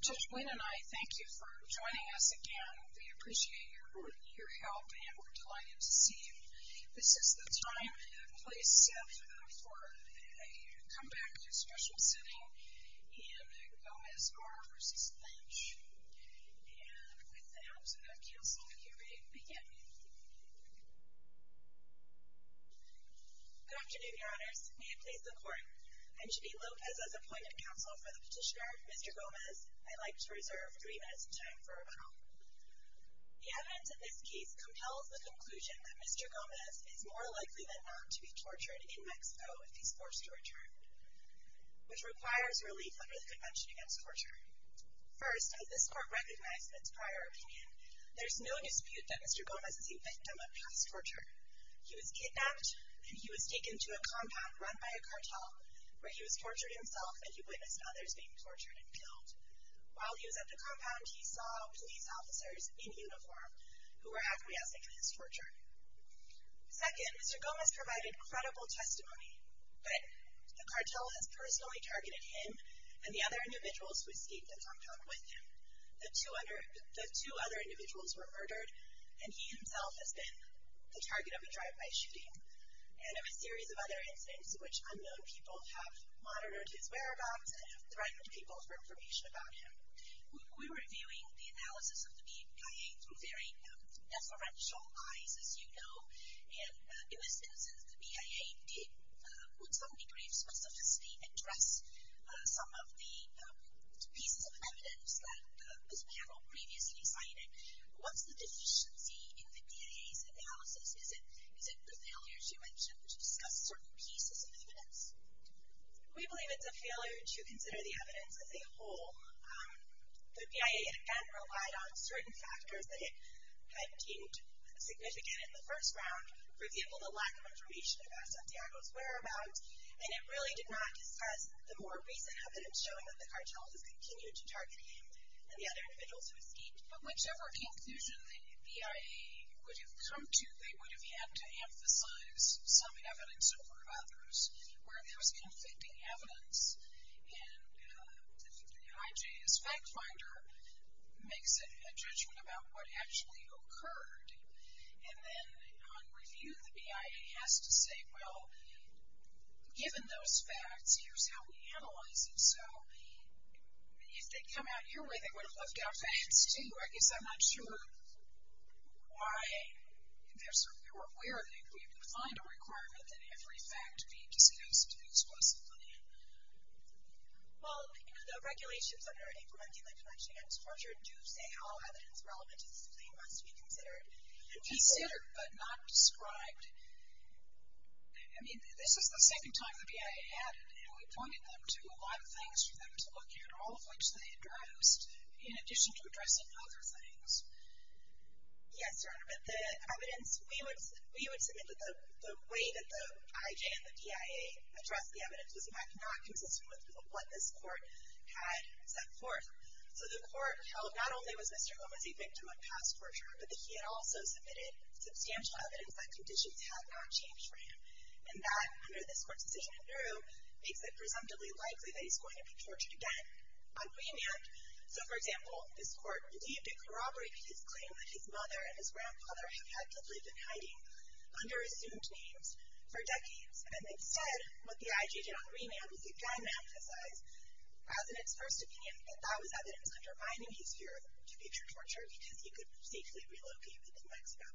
Judge Blaine and I thank you for joining us again. We appreciate your help and we're delighted to see you. This is the time and place for a comeback to special sitting in Gomez-R. v. Lynch. And with that, counsel, you may begin. Good afternoon, Your Honors. May it please the Court, I'm Ginny Lopez as appointment counsel for the petitioner, Mr. Gomez. I'd like to reserve three minutes of time for rebuttal. The evidence in this case compels the conclusion that Mr. Gomez is more likely than not to be tortured in Mexico if he's forced to return, which requires relief under the Convention Against Torture. First, as this Court recognized in its prior opinion, there's no dispute that Mr. Gomez is a victim of past torture. He was kidnapped and he was taken to a compound run by a cartel where he was tortured himself and he witnessed others being tortured and killed. While he was at the compound, he saw police officers in uniform who were acquiescing in his torture. Second, Mr. Gomez provided credible testimony, but the cartel has personally targeted him and the other individuals who escaped the compound with him. The two other individuals were murdered, and he himself has been the target of a drive-by shooting. And there were a series of other incidents in which unknown people have monitored his whereabouts and have threatened people for information about him. We were reviewing the analysis of the BIA through very deferential eyes, as you know, and it was as if the BIA did put some degree of specificity and dress some of the pieces of evidence that this panel previously cited. What's the deficiency in the BIA's analysis? Is it the failures you mentioned, which discuss certain pieces of evidence? We believe it's a failure to consider the evidence as a whole. The BIA, again, relied on certain factors that it had deemed significant in the first round, for example, the lack of information about Santiago's whereabouts, and it really did not discuss the more recent evidence showing that the cartel has continued to target him and the other individuals who escaped. But whichever conclusion the BIA would have come to, they would have had to emphasize some evidence in front of others, where there was conflicting evidence, and the IJS fact finder makes a judgment about what actually occurred. And then on review, the BIA has to say, well, given those facts, here's how we analyze them. So if they'd come out your way, they would have left out facts, too. I guess I'm not sure why, if they were aware that we would find a requirement that every fact be discussed exclusively. Well, the regulations under Implementing the Convention Against Torture do say how evidence relevant to this claim must be considered. Considered, but not described. I mean, this is the second time the BIA had it, and we pointed them to a lot of things for them to look at, all of which they addressed in addition to addressing other things. Yes, Your Honor, but the evidence, we would submit that the way that the IJ and the BIA addressed the evidence was not consistent with what this court had set forth. So the court held not only was Mr. Gomez a victim of past torture, but that he had also submitted substantial evidence that conditions had not changed for him. And that, under this court's decision in Nauru, makes it presumptively likely that he's going to be tortured again on remand. So, for example, this court believed it corroborated his claim that his mother and his grandfather had actively been hiding under assumed names for decades. And instead, what the IJ did on remand was they diametrized President's first opinion, and that was evidence undermining his fear to feature torture because he could safely relocate within Mexico.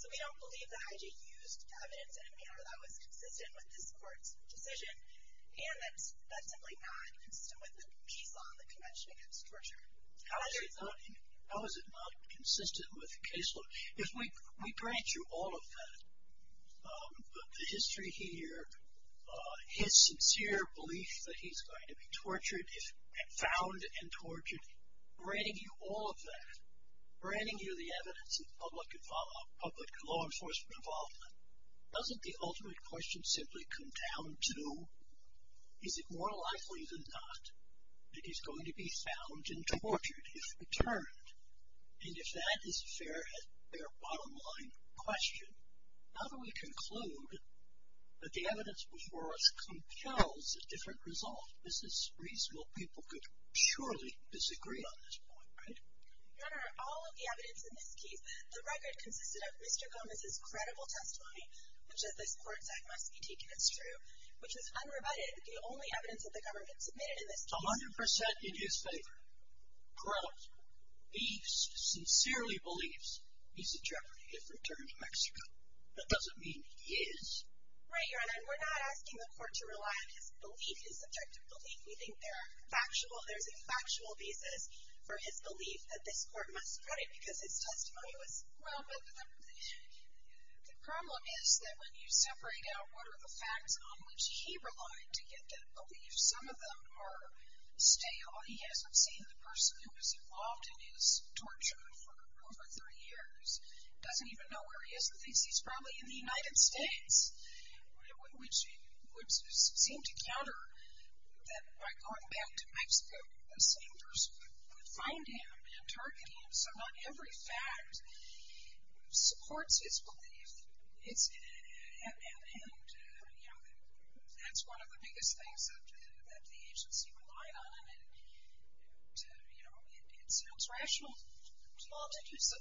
So we don't believe the IJ used evidence in a manner that was consistent with this court's decision, and that's simply not consistent with the case law in the Convention Against Torture. How is it not consistent with the case law? If we grant you all of that, the history here, his sincere belief that he's going to be tortured, found and tortured, granting you all of that, granting you the evidence of public law enforcement involvement, doesn't the ultimate question simply come down to, is it more likely than not that he's going to be found and tortured if returned? And if that is a fair bottom line question, how do we conclude that the evidence before us compels a different result? This is reasonable. People could surely disagree on this point, right? Your Honor, all of the evidence in this case, the record consisted of Mr. Gomez's credible testimony, which is this court's act must be taken as true, which is unrebutted. The only evidence that the government submitted in this case 100% in his favor, credible. He sincerely believes he's a jeopardy if returned to Mexico. That doesn't mean he is. Right, Your Honor, and we're not asking the court to rely on his belief, his subjective belief. We think there are factual, there's a factual basis for his belief that this court must credit because his testimony was... Well, but the problem is that when you separate out what are the facts on which he relied to get that belief, some of them are stale. He hasn't seen the person who was involved in his torture for over 30 years. He doesn't even know where he is in the case. He's probably in the United States, which would seem to counter that by going back to Mexico, the same person would find him and target him. So not every fact supports his belief. And, you know, that's one of the biggest things that the agency relied on. And, you know, it sounds rational to all to do so.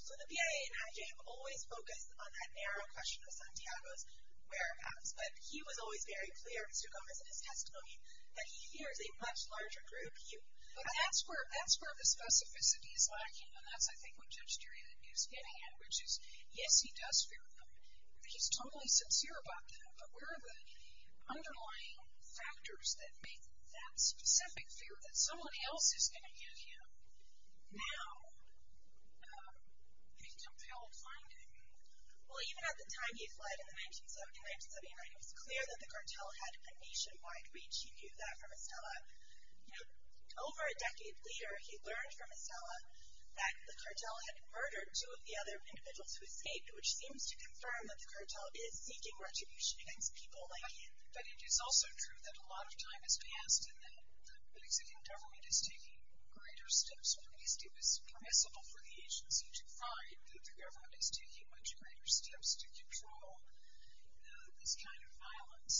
So the BIA and IJ have always focused on that narrow question of Santiago's whereabouts, but he was always very clear in his documents and his testimony that he hears a much larger group. But that's where the specificity is lacking, and that's, I think, what Judge Durian is getting at, which is, yes, he does fear them. He's totally sincere about them. But where are the underlying factors that make that specific fear that someone else is going to use him now a compelled finding? Well, even at the time he fled in 1979, it was clear that the cartel had a nationwide reach. He knew that from Estella. Yet over a decade later, he learned from Estella that the cartel had murdered two of the other individuals who escaped, which seems to confirm that the cartel is seeking retribution against people like him. But it is also true that a lot of time has passed and that the Mexican government is taking greater steps. At least it was permissible for the agency to find that the government is taking much greater steps to control this kind of violence.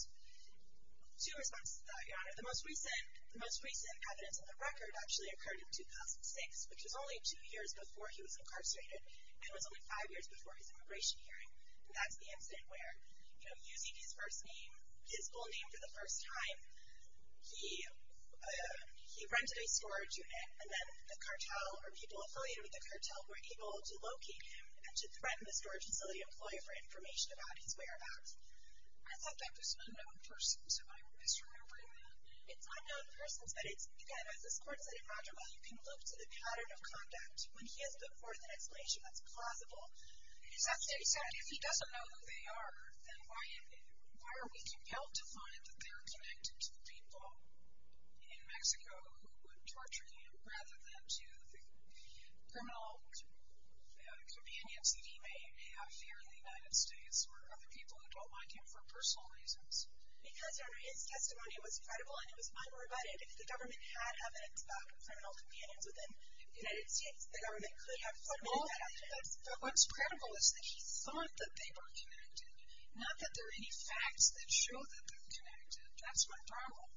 Two responses to that, Your Honor. The most recent evidence on the record actually occurred in 2006, which was only two years before he was incarcerated, and it was only five years before his immigration hearing. And that's the incident where, you know, using his first name, his full name for the first time, he rented a storage unit, and then the cartel or people affiliated with the cartel were able to locate him and to threaten the storage facility employee for information about his whereabouts. I thought that was an unknown person, so I'm misremembering that. It's unknown persons, but it's, again, as this Court said in Rogerville, you can look to the pattern of conduct when he has put forth an explanation that's plausible. Is that to say, if he doesn't know who they are, then why are we compelled to find that they're connected to the people in Mexico who would torture him rather than to the criminal convenience that he may have here in the United States or other people who don't like him for personal reasons? Because, under his testimony, it was credible and it was unrebutted. If the government had evidence about criminal convenience within the United States, the government could have flooded that evidence. But what's credible is that he thought that they were connected, not that there are any facts that show that they're connected. That's my problem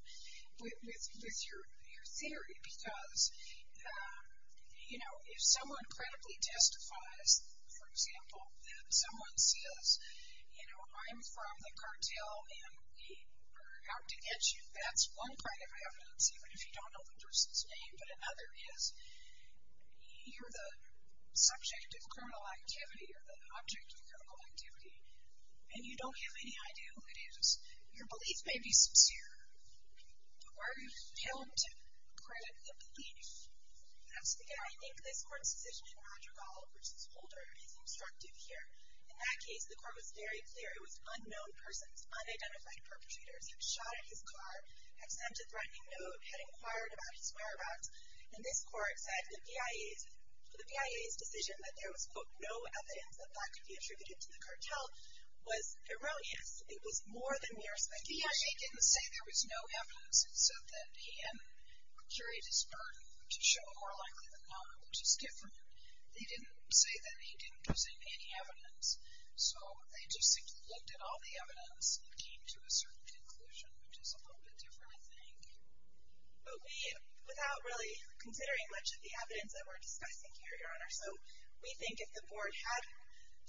with your theory, because, you know, if someone credibly testifies, for example, that someone says, you know, I'm from the cartel and we are out to get you, that's one kind of evidence, even if you don't know the person's name. But another is, you're the subject of criminal activity or the object of criminal activity, and you don't have any idea who it is. Your belief may be sincere. Why are you compelled to credit the belief? I think this Court's decision in Roger Gall v. Holder is instructive here. In that case, the Court was very clear it was unknown persons, unidentified perpetrators. He was shot at his car, had sent a threatening note, had inquired about his whereabouts. And this Court said the PIA's decision that there was, quote, no evidence that that could be attributed to the cartel was erroneous. It was more than mere speculation. The PIA didn't say there was no evidence. It said that he had carried his burden, which is shown more likely than not, which is different. They didn't say that he didn't present any evidence. So they just looked at all the evidence and came to a certain conclusion, which is a little bit different, I think. Okay. Without really considering much of the evidence that we're discussing here, Your Honor, so we think if the Board had,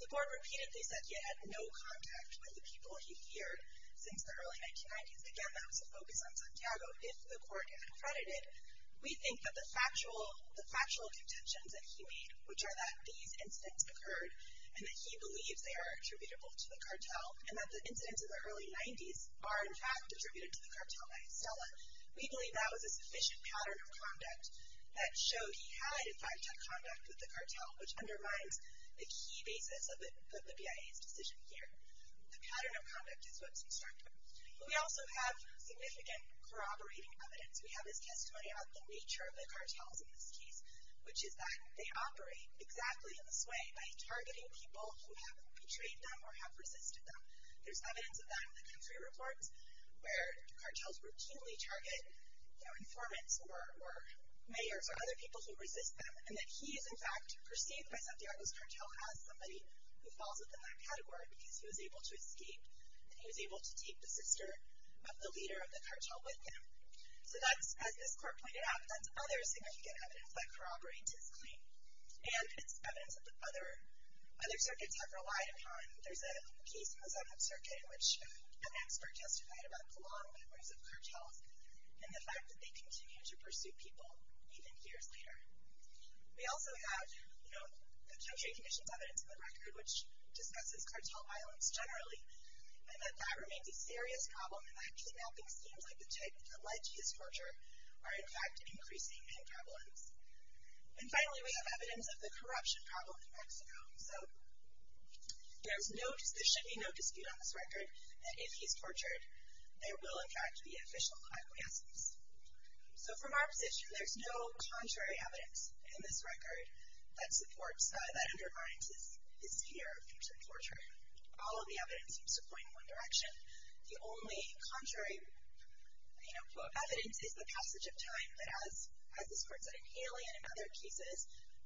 the Board repeatedly said he had no contact with the people he feared since the early 1990s, again, that was a focus on Santiago, if the Court had accredited, we think that the factual contentions that he made, which are that these incidents occurred, and that he believes they are attributable to the cartel, and that the incidents in the early 90s are, in fact, attributed to the cartel by Estella, we believe that was a sufficient pattern of conduct that showed he had, in fact, had conduct with the cartel, which undermines the key basis of the BIA's decision here. The pattern of conduct is what's instructive. We also have significant corroborating evidence. We have his testimony about the nature of the cartels in this case, which is that they operate exactly in this way, by targeting people who have betrayed them or have resisted them. There's evidence of that in the country reports, where cartels routinely target informants or mayors or other people who resist them, and that he is, in fact, perceived by Santiago's cartel as somebody who falls within that category, because he was able to escape, and he was able to take the sister of the leader of the cartel with him. So that's, as this Court pointed out, that's other significant evidence that corroborates his claim, and it's evidence that other circuits have relied upon. There's a case in the Seventh Circuit in which an expert testified about the long memories of cartels and the fact that they continue to pursue people even years later. We also have, you know, the country conditions evidence in the record, which discusses cartel violence generally, and that that remains a serious problem, and that kidnapping seems like the type that led to his torture are, in fact, increasing in prevalence. And finally, we have evidence of the corruption problem in Mexico. So there should be no dispute on this record that if he's tortured, there will, in fact, be official acquiescence. So from our position, there's no contrary evidence in this record that undermines his fear of future torture. All of the evidence seems to point in one direction. The only contrary, you know, quote, evidence is the passage of time, but as this Court said in Haley and in other cases,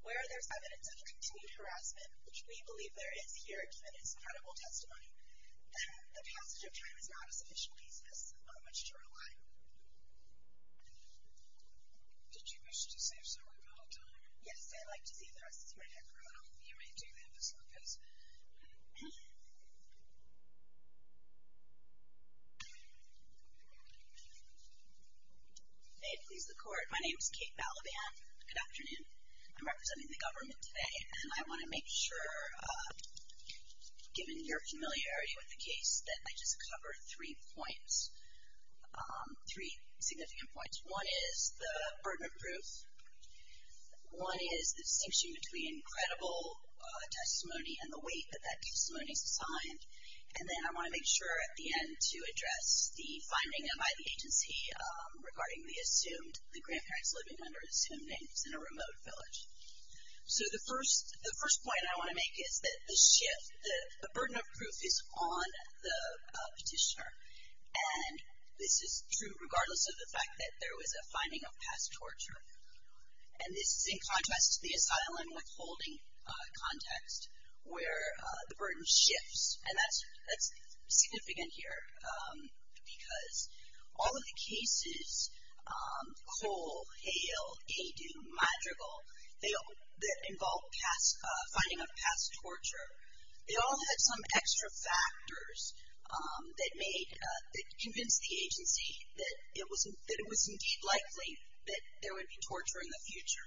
where there's evidence of continued harassment, which we believe there is here, given his credible testimony, the passage of time is not a sufficient basis on which to rely. Did you wish to say something about time? Yes, I'd like to see the rest of the screen. I don't know if you may do that, Ms. Lopez. May it please the Court, my name is Kate Balaban. Good afternoon. I'm representing the government today, and I want to make sure, given your familiarity with the case, that I just cover three points, three significant points. One is the burden of proof. One is the distinction between credible testimony and the weight that that testimony is assigned. And then I want to make sure at the end to address the finding by the agency regarding the assumed, the grandparents living under assumed names in a remote village. So the first point I want to make is that the shift, the burden of proof is on the petitioner. And this is true regardless of the fact that there was a finding of past torture. And this is in contrast to the asylum withholding context, where the burden shifts. And that's significant here because all of the cases, Cole, Hale, Adu, Madrigal, that involved finding of past torture, they all had some extra factors that convinced the agency that it was indeed likely that there would be torture in the future.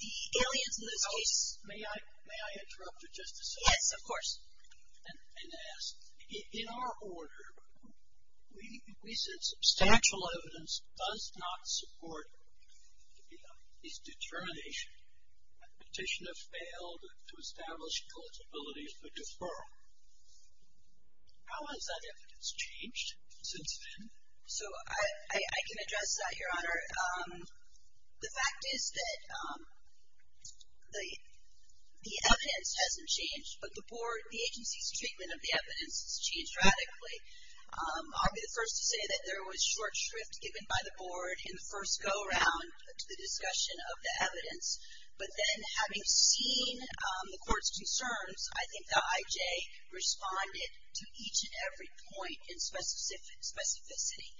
The aliens in those cases. May I interrupt it just a second? Yes, of course. In our order, we said substantial evidence does not support this determination. The petitioner failed to establish culpability for deferral. How has that evidence changed since then? So I can address that, Your Honor. The fact is that the evidence hasn't changed, but the agency's treatment of the evidence has changed radically. I'll be the first to say that there was short shrift given by the board in the first go-around to the discussion of the evidence. But then having seen the court's concerns, I think the IJ responded to each and every point in specificity.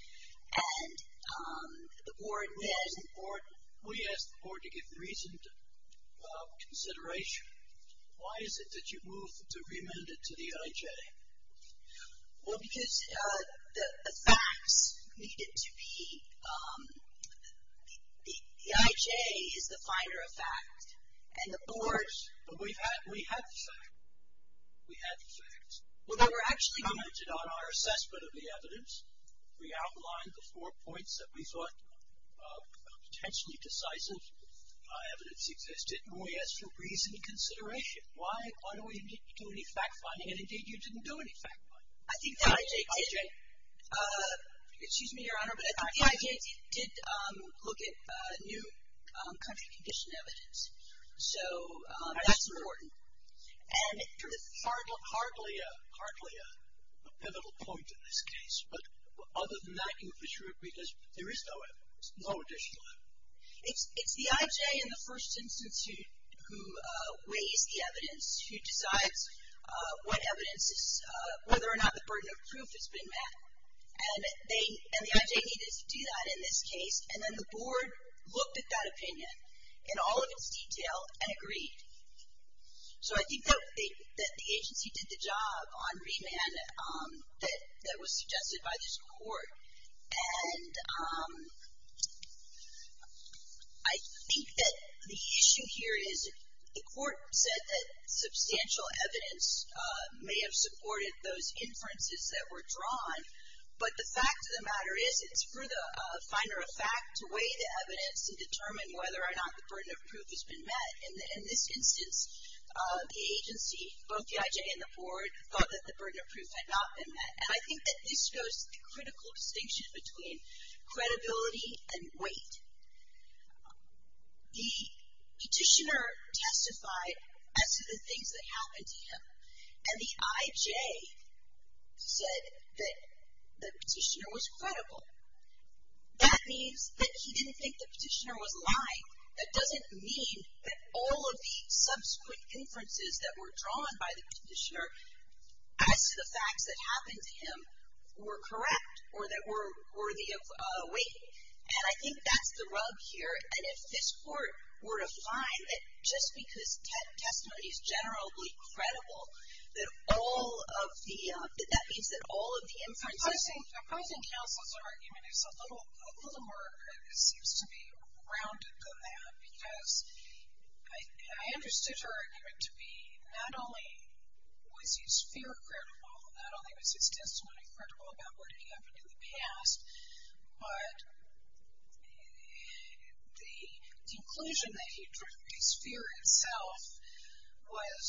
And the board did. We asked the board to give reasoned consideration. Why is it that you moved to remand it to the IJ? Well, because the facts needed to be. The IJ is the finder of fact, and the board. But we had the facts. We had the facts. Well, they were actually commented on our assessment of the evidence. We outlined the four points that we thought potentially decisive evidence existed. And we asked for reasoned consideration. Why do we need to do any fact-finding? And indeed, you didn't do any fact-finding. Excuse me, Your Honor, but I think the IJ did look at new country condition evidence. So that's important. And this is hardly a pivotal point in this case. But other than that, you're for sure, because there is no additional evidence. It's the IJ in the first instance who weighs the evidence, who decides what evidence is, whether or not the burden of proof has been met. And the IJ needed to do that in this case. And then the board looked at that opinion in all of its detail and agreed. So I think that the agency did the job on remand that was suggested by this court. And I think that the issue here is the court said that substantial evidence may have supported those inferences that were drawn. But the fact of the matter is it's for the finder of fact to weigh the evidence and determine whether or not the burden of proof has been met. In this instance, the agency, both the IJ and the board, thought that the burden of proof had not been met. And I think that this goes to the critical distinction between credibility and weight. The petitioner testified as to the things that happened to him. And the IJ said that the petitioner was credible. That means that he didn't think the petitioner was lying. That doesn't mean that all of the subsequent inferences that were drawn by the petitioner as to the facts that happened to him were correct or that were worthy of weight. And I think that's the rub here. And if this court were to find that just because testimony is generally credible, that means that all of the inferences. I think Counsel's argument is a little more grounded than that. Because I understood her argument to be not only was his fear credible, not only was his testimony credible about what had happened in the past, but the conclusion that he drew that his fear itself was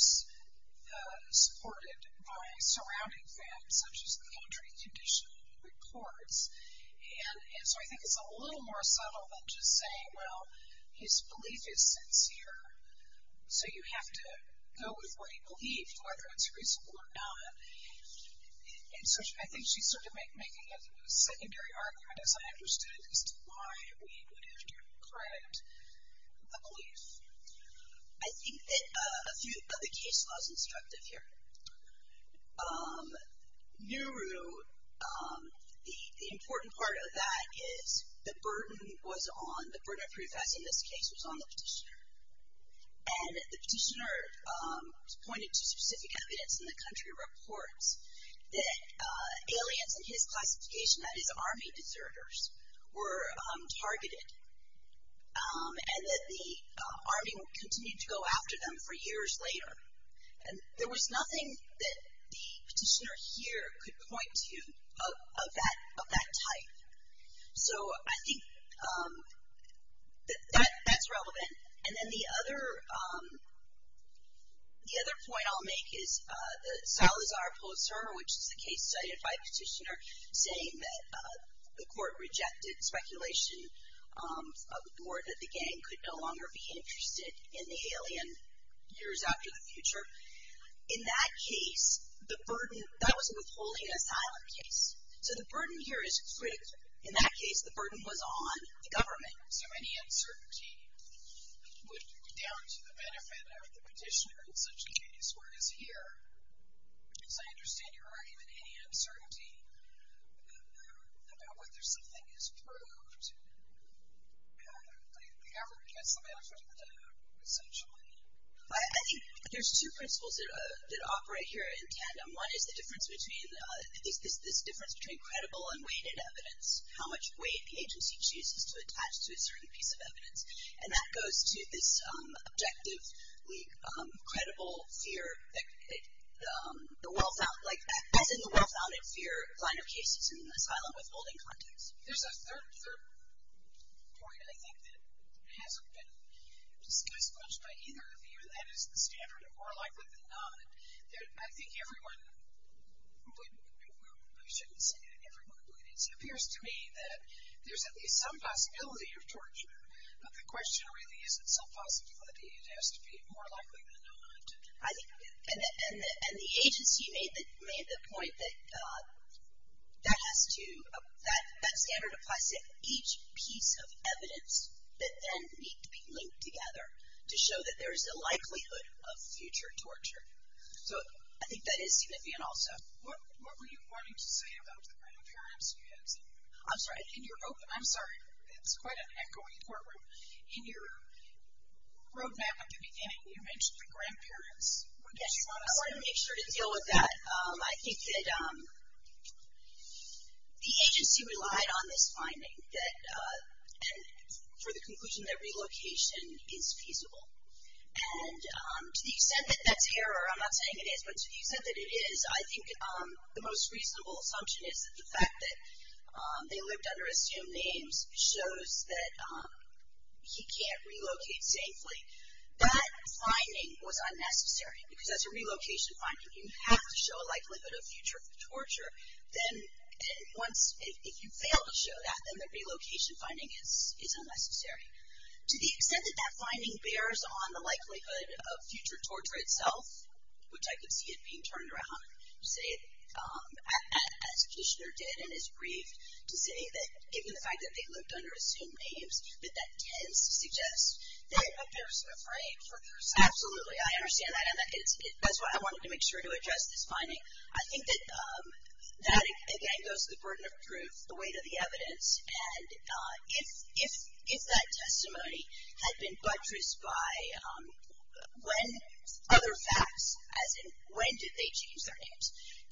supported by surrounding facts, such as the entry condition of the reports. And so I think it's a little more subtle than just saying, well, his belief is sincere, so you have to go with what he believed, whether it's reasonable or not. And so I think she's sort of making a secondary argument, as I understood it, as to why we would have to correct a belief. I think that a few of the case laws instructive here. NURU, the important part of that is the burden was on, the burden of proof as in this case was on the petitioner. And the petitioner pointed to specific evidence in the country reports that aliens in his classification, that is army deserters, were targeted. And that the army continued to go after them for years later. And there was nothing that the petitioner here could point to of that type. So I think that that's relevant. And then the other point I'll make is the Salazar Pulitzer, which is the case cited by the petitioner, saying that the court rejected speculation that the gang could no longer be interested in the alien years after the future. In that case, the burden, that was a withholding asylum case. So the burden here is strict. In that case, the burden was on the government. So any uncertainty would be down to the benefit of the petitioner in such a case, whereas here, as I understand your argument, any uncertainty about whether something is proved, the government gets the benefit of the doubt, essentially. I think there's two principles that operate here in tandem. One is the difference between credible and weighted evidence, how much weight the agency chooses to attach to a certain piece of evidence. And that goes to this objectively credible fear, as in the well-founded fear line of cases in an asylum withholding context. There's a third point, I think, that hasn't been discussed much by either of you, and is the standard of warlike with the dominant. I think everyone would, I shouldn't say everyone, but it appears to me that there's at least some possibility of torture. The question really isn't some possibility. It has to be more likely than not. I think, and the agency made the point that that has to, that standard applies to each piece of evidence that then need to be linked together to show that there is a likelihood of future torture. So I think that is significant also. What were you wanting to say about the grandparents you had seen? I'm sorry. In your, I'm sorry, it's quite an echoing courtroom. In your roadmap at the beginning, you mentioned the grandparents. Yes, I want to make sure to deal with that. I think that the agency relied on this finding that, for the conclusion that relocation is feasible. And to the extent that that's error, I'm not saying it is, but to the extent that it is, I think the most reasonable assumption is that the fact that they lived under assumed names shows that he can't relocate safely. That finding was unnecessary because that's a relocation finding. You have to show a likelihood of future torture. If you fail to show that, then the relocation finding is unnecessary. To the extent that that finding bears on the likelihood of future torture itself, which I could see it being turned around, as Kishner did and is briefed, to say that given the fact that they lived under assumed names, that that tends to suggest that a person afraid for their safety. Absolutely. I understand that. That's why I wanted to make sure to address this finding. I think that that, again, goes to the burden of proof, the weight of the evidence. And if that testimony had been buttressed by other facts, as in when did they change their names?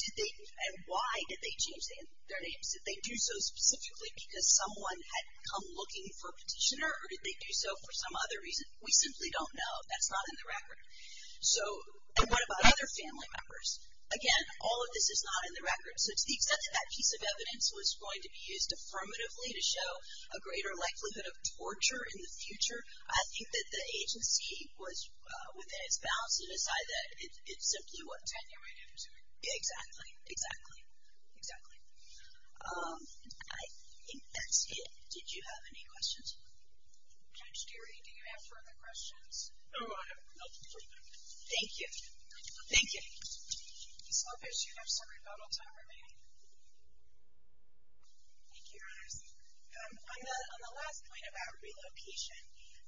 And why did they change their names? Did they do so specifically because someone had come looking for a petitioner, or did they do so for some other reason? We simply don't know. That's not in the record. And what about other family members? Again, all of this is not in the record. So, to the extent that that piece of evidence was going to be used affirmatively to show a greater likelihood of torture in the future, I think that the agency was within its bounds to decide that it simply wasn't. Tenured into it. Exactly. Exactly. Exactly. I think that's it. Did you have any questions? Judge Geary, do you have further questions? No, I have no further questions. Thank you. Ms. Lopez, do you have some rebuttal time remaining? Thank you, Your Honors. On the last point about relocation,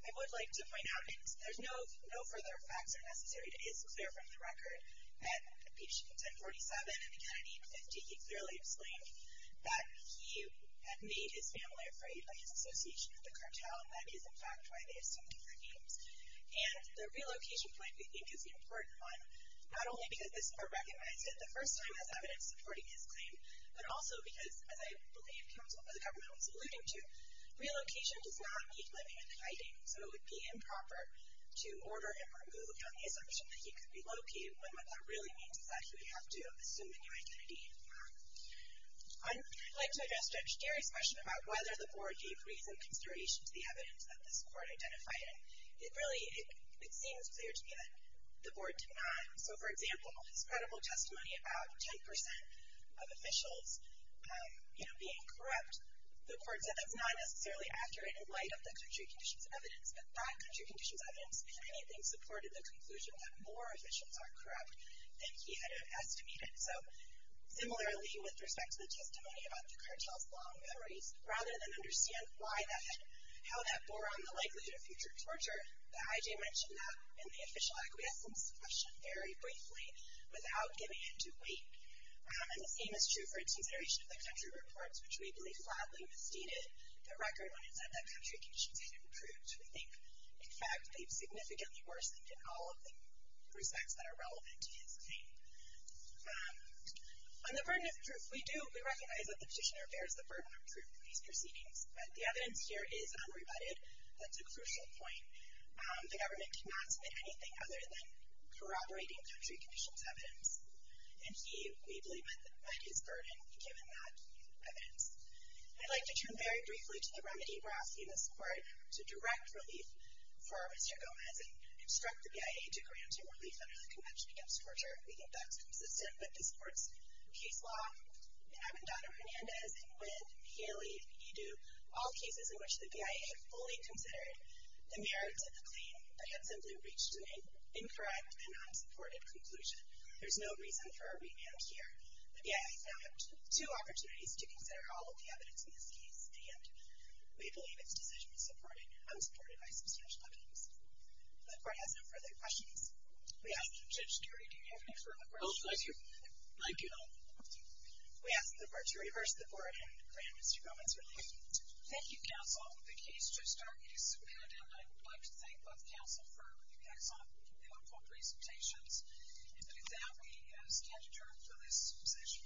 I would like to point out, and there's no further facts are necessary to be as clear from the record, that Petition 1047 and the Kennedy 850, he clearly explained that he had made his family afraid by his association with the cartel. That is, in fact, why they assumed their names. And the relocation point, we think, is an important one. Not only because this Court recognized it the first time as evidence supporting his claim, but also because, as I believe the government was alluding to, relocation does not mean living in hiding. So, it would be improper to order him removed on the assumption that he could be located when what that really means is that he would have to assume a new identity. I'd like to address Judge Geary's question about whether the Board gave reason and consideration to the evidence that this Court identified. And, really, it seems clear to me that the Board did not. So, for example, his credible testimony about 10% of officials being corrupt, the Court said that's not necessarily accurate in light of the country conditions evidence. But that country conditions evidence, if anything, supported the conclusion that more officials are corrupt than he had estimated. So, similarly, with respect to the testimony about the cartel's long memories, rather than understand how that bore on the likelihood of future torture, the IJ mentioned that in the official acquiescence question very briefly, without giving into weight. And the same is true for its consideration of the country reports, which we believe flatly misstated the record when it said that country conditions had improved. We think, in fact, they've significantly worsened in all of the respects that are relevant to his claim. On the burden of proof, we recognize that the petitioner bears the burden of proof for these proceedings. But the evidence here is unrebutted. That's a crucial point. The government did not submit anything other than corroborating country conditions evidence. And he, we believe, met his burden given that evidence. I'd like to turn very briefly to the remedy. We're asking this Court to direct relief for Mr. Gomez and instruct the BIA to grant him relief under the Convention Against Torture. We think that's consistent with this Court's case law. And I'm in Donna Hernandez, and Wynn, and Haley, and Edu, all cases in which the BIA fully considered the merits of the claim, but had simply reached an incorrect and unsupported conclusion. There's no reason for a revamp here. The BIA found two opportunities to consider all of the evidence in this case, and we believe its decision was unsupported by substantial evidence. The Court has no further questions. We ask the judge, Gary, do you have any further questions? No, thank you. Thank you. We ask the Court to reverse the Board and grant Mr. Gomez relief. Thank you, counsel. The case just started. It is submitted, and I would like to thank both counsel for excellent and helpful presentations. And with that, we stand adjourned for this session.